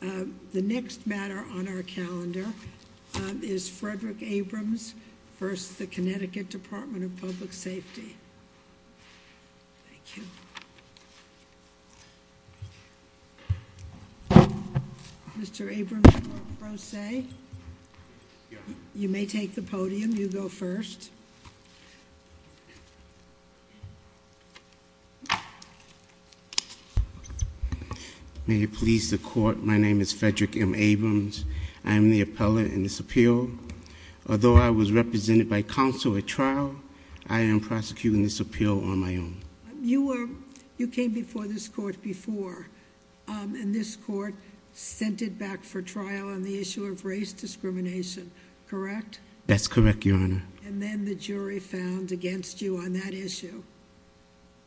The next matter on our calendar is Frederick Abrams v. The Connecticut Department of Public Safety. Mr. Abrams, you may take the podium. You go first. May it please the court, my name is Frederick M. Abrams. I am the appellant in this appeal. Although I was represented by counsel at trial, I am prosecuting this appeal on my own. You came before this court before, and this court sent it back for trial on the issue of race discrimination, correct? That's correct, Your Honor. And then the jury found against you on that issue?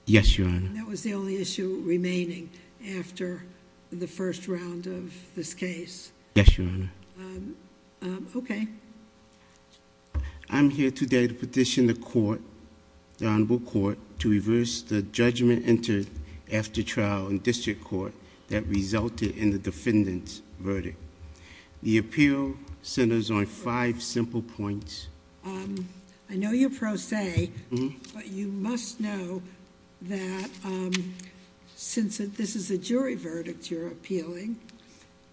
Yes, Your Honor. And that was the only issue remaining after the first round of this case? Yes, Your Honor. Okay. I'm here today to petition the court, the Honorable Court, to reverse the judgment entered after trial in district court that resulted in the defendant's verdict. The appeal centers on five simple points. I know you're pro se, but you must know that since this is a jury verdict you're appealing,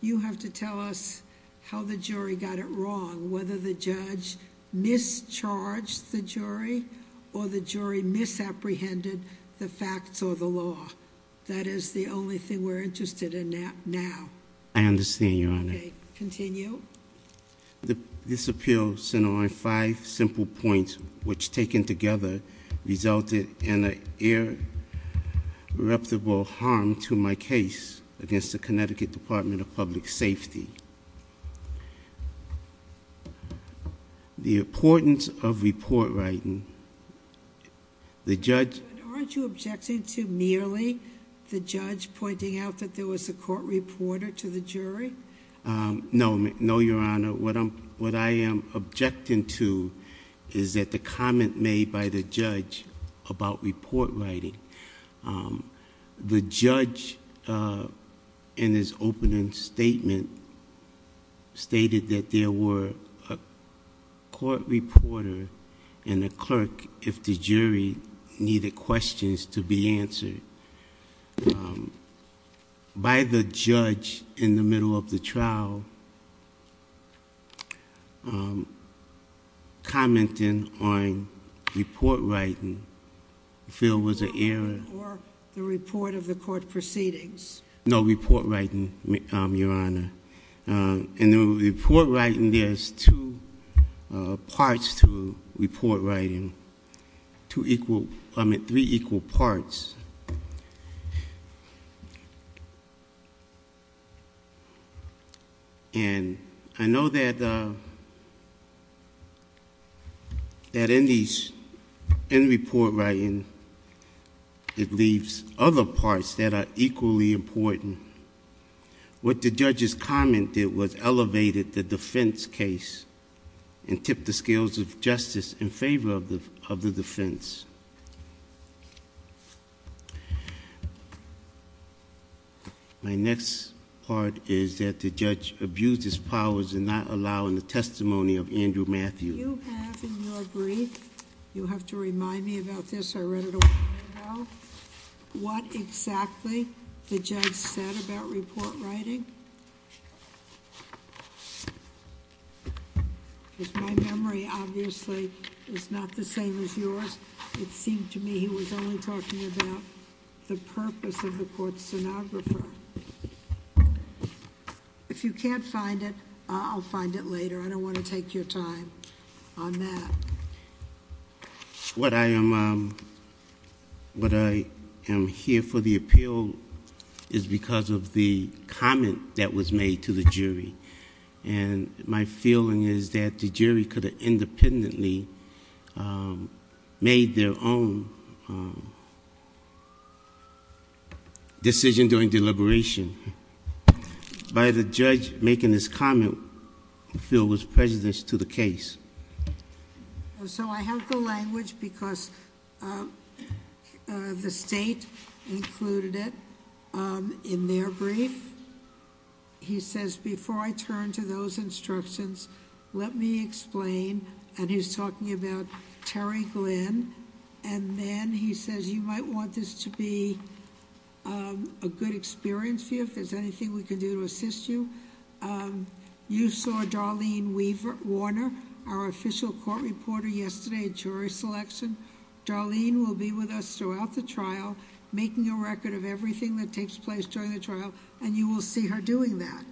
you have to tell us how the jury got it wrong, whether the judge mischarged the jury or the jury misapprehended the facts or the law. That is the only thing we're interested in now. I understand, Your Honor. Okay, continue. This appeal center on five simple points, which taken together resulted in an irreparable harm to my case against the Connecticut Department of Public Safety. The importance of report writing, the judge- Report writing? No, Your Honor. What I am objecting to is that the comment made by the judge about report writing. The judge in his opening statement stated that there were a court reporter and a clerk if the jury needed questions to be answered. By the judge in the middle of the trial commenting on report writing, I feel was an error. Or the report of the court proceedings. No, report writing, Your Honor. In the report writing, there's two parts to report writing. Two equal, I mean three equal parts. And I know that in these, in report writing, it leaves other parts that are equally important. What the judge's comment did was elevated the defense case and tipped the scales of justice in favor of the defense. My next part is that the judge abused his powers in not allowing the testimony of Andrew Matthews. You have in your brief, you'll have to remind me about this, I read it a while ago. What exactly the judge said about report writing? Because my memory, obviously, is not the same as yours. It seemed to me he was only talking about the purpose of the court stenographer. If you can't find it, I'll find it later. I don't want to take your time on that. What I am here for the appeal is because of the comment that was made to the jury. And my feeling is that the jury could have independently made their own decision during deliberation. By the judge making this comment, the field was prejudiced to the case. So I have the language because the state included it in their brief. He says, before I turn to those instructions, let me explain, and he's talking about Terry Glenn. And then he says, you might want this to be a good experience for you, if there's anything we can do to assist you. You saw Darlene Warner, our official court reporter yesterday at jury selection. Darlene will be with us throughout the trial, making a record of everything that takes place during the trial, and you will see her doing that.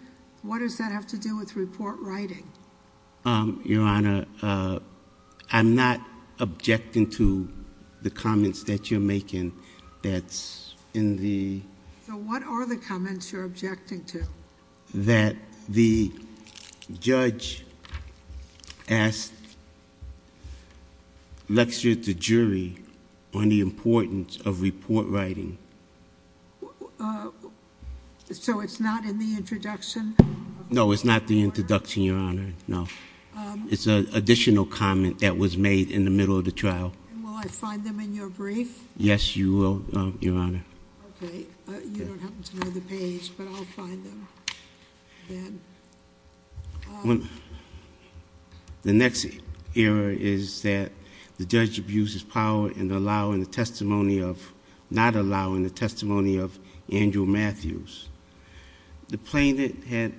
What does that have to do with report writing? Your Honor, I'm not objecting to the comments that you're making that's in the- So what are the comments you're objecting to? That the judge asked, lectured the jury on the importance of report writing. So it's not in the introduction? No, it's not the introduction, Your Honor, no. It's an additional comment that was made in the middle of the trial. And will I find them in your brief? Yes, you will, Your Honor. Okay, you don't happen to know the page, but I'll find them then. The next error is that the judge abuses power in allowing the testimony of, not allowing the testimony of Andrew Matthews. The plaintiff had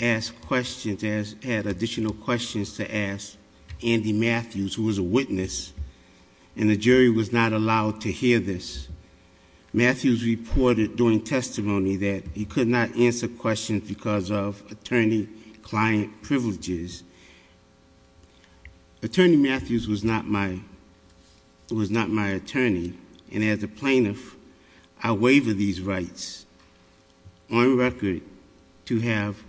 asked questions, had additional questions to ask Andy Matthews, who was a witness, and the jury was not allowed to hear this. Matthews reported during testimony that he could not answer questions because of attorney-client privileges. Attorney Matthews was not my attorney, and as a plaintiff, I waver these rights. On record to have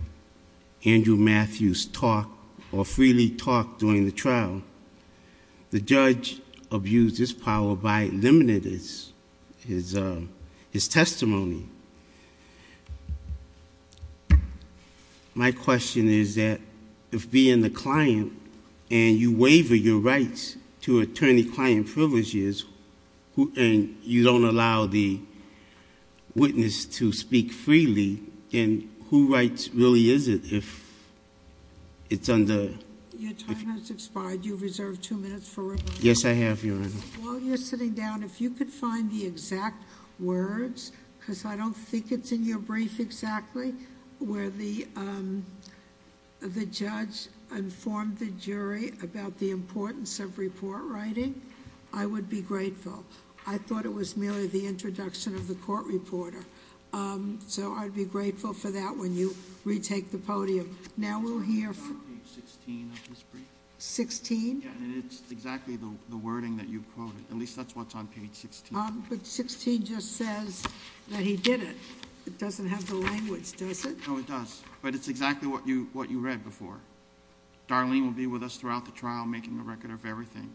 Andrew Matthews talk or freely talk during the trial. The judge abused his power by limiting his testimony. My question is that, if being the client and you waver your rights to attorney-client privileges, and you don't allow the witness to speak freely, then who rights really is it if it's under... Your time has expired. You've reserved two minutes for... Yes, I have, Your Honor. While you're sitting down, if you could find the exact words, because I don't think it's in your brief exactly, where the judge informed the jury about the importance of report writing, I would be grateful. I thought it was merely the introduction of the court reporter, so I'd be grateful for that when you retake the podium. Now we'll hear... It's on page 16 of this brief. 16? Yes, and it's exactly the wording that you quoted. At least that's what's on page 16. But 16 just says that he did it. It doesn't have the language, does it? No, it does, but it's exactly what you read before. Darlene will be with us throughout the trial making a record of everything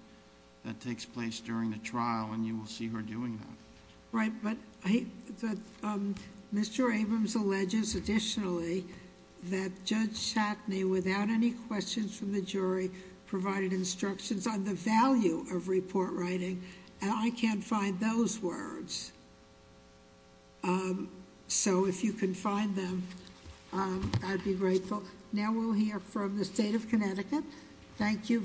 that takes place during the trial, and you will see her doing that. Right, but Mr. Abrams alleges additionally that Judge Chatney, without any questions from the jury, provided instructions on the value of report writing, and I can't find those words. So if you can find them, I'd be grateful. Now we'll hear from the State of Connecticut. Thank you,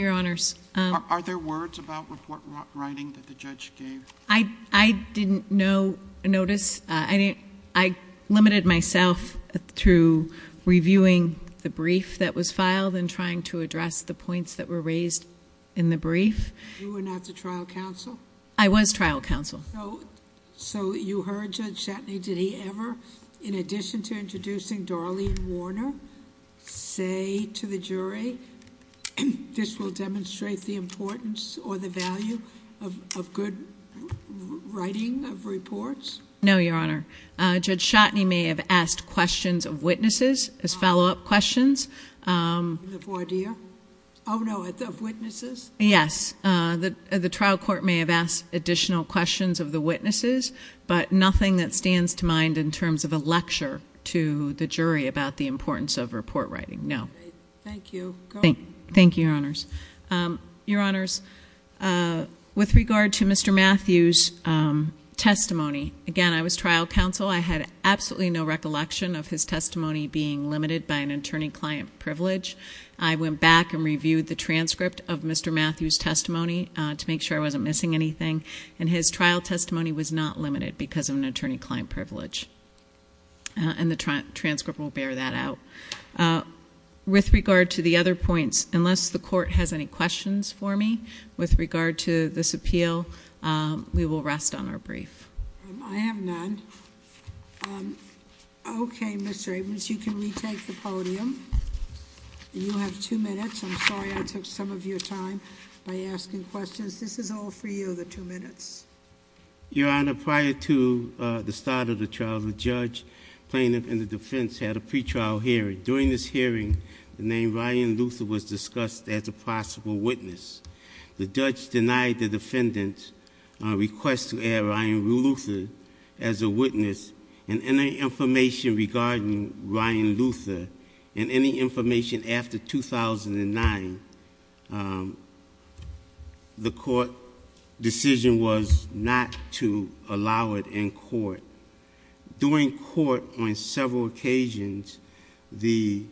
Your Honors. Are there words about report writing that the judge gave? I didn't notice. I limited myself through reviewing the brief that was filed and trying to address the points that were raised in the brief. You were not the trial counsel? I was trial counsel. So you heard Judge Chatney, did he ever, in addition to introducing Darlene Warner, say to the jury, this will demonstrate the importance or the value of good writing of reports? No, Your Honor. Judge Chatney may have asked questions of witnesses as follow-up questions. The voir dire? No, of witnesses? Yes, the trial court may have asked additional questions of the witnesses, but nothing that stands to mind in terms of a lecture to the jury about the importance of report writing, no. Thank you. Thank you, Your Honors. Your Honors, with regard to Mr. Matthews' testimony, again, I was trial counsel. I had absolutely no recollection of his testimony being limited by an attorney-client privilege. I went back and reviewed the transcript of Mr. Matthews' testimony to make sure I wasn't missing anything. And his trial testimony was not limited because of an attorney-client privilege. And the transcript will bear that out. With regard to the other points, unless the court has any questions for me with regard to this appeal, we will rest on our brief. I have none. Okay, Mr. Abrams, you can retake the podium. You have two minutes. I'm sorry I took some of your time by asking questions. This is all for you, the two minutes. Your Honor, prior to the start of the trial, the judge, plaintiff, and the defense had a pre-trial hearing. During this hearing, the name Ryan Luther was discussed as a possible witness. The judge denied the defendant's request to add Ryan Luther as a witness. And any information regarding Ryan Luther and any information after 2009, the court decision was not to allow it in court. During court on several occasions, the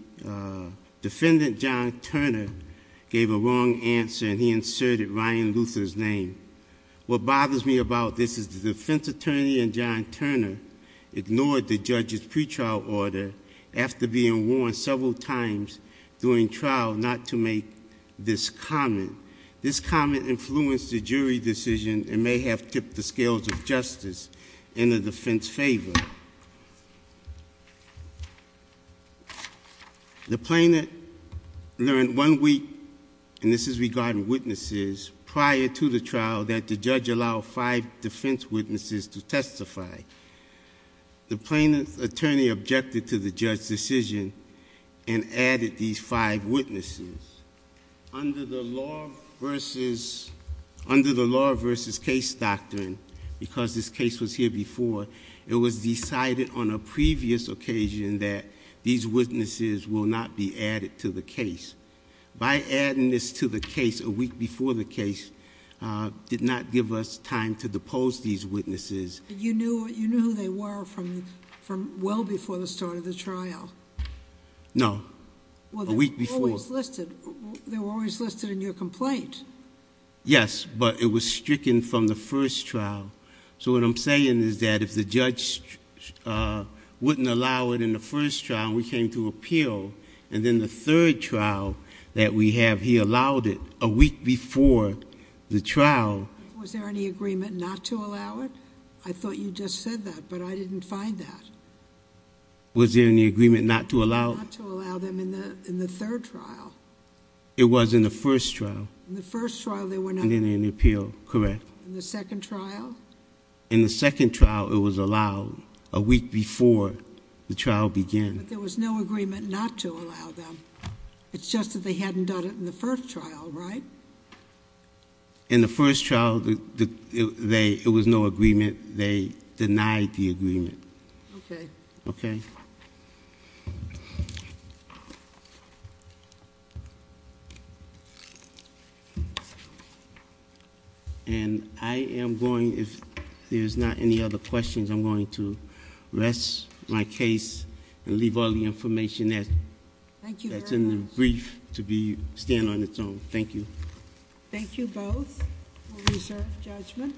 defendant, John Turner, gave a wrong answer and he inserted Ryan Luther's name. What bothers me about this is the defense attorney and John Turner ignored the judge's pre-trial order after being warned several times during trial not to make this comment. This comment influenced the jury decision and may have tipped the scales of justice in the defense's favor. The plaintiff learned one week, and this is regarding witnesses, prior to the trial that the judge allowed five defense witnesses to testify. The plaintiff's attorney objected to the judge's decision and added these five witnesses. Under the law versus case doctrine, because this case was here before, it was decided on a previous occasion that these witnesses will not be added to the case. By adding this to the case a week before the case did not give us time to depose these witnesses. You knew who they were from well before the start of the trial? No, a week before. Well, they were always listed in your complaint. Yes, but it was stricken from the first trial. So what I'm saying is that if the judge wouldn't allow it in the first trial, we came to appeal. And then the third trial that we have, he allowed it a week before the trial. Was there any agreement not to allow it? I thought you just said that, but I didn't find that. Was there any agreement not to allow- Not to allow them in the third trial. It was in the first trial. In the first trial they were not- In the appeal, correct. In the second trial? In the second trial it was allowed a week before the trial began. But there was no agreement not to allow them. It's just that they hadn't done it in the first trial, right? In the first trial, it was no agreement. They denied the agreement. Okay. Okay. And I am going, if there's not any other questions, I'm going to rest my case and leave all the information that's in the brief to stand on its own. Thank you. Thank you both for reserved judgment.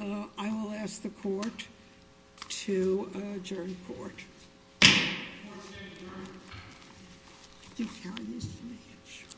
I will ask the court to adjourn court. Court is adjourned.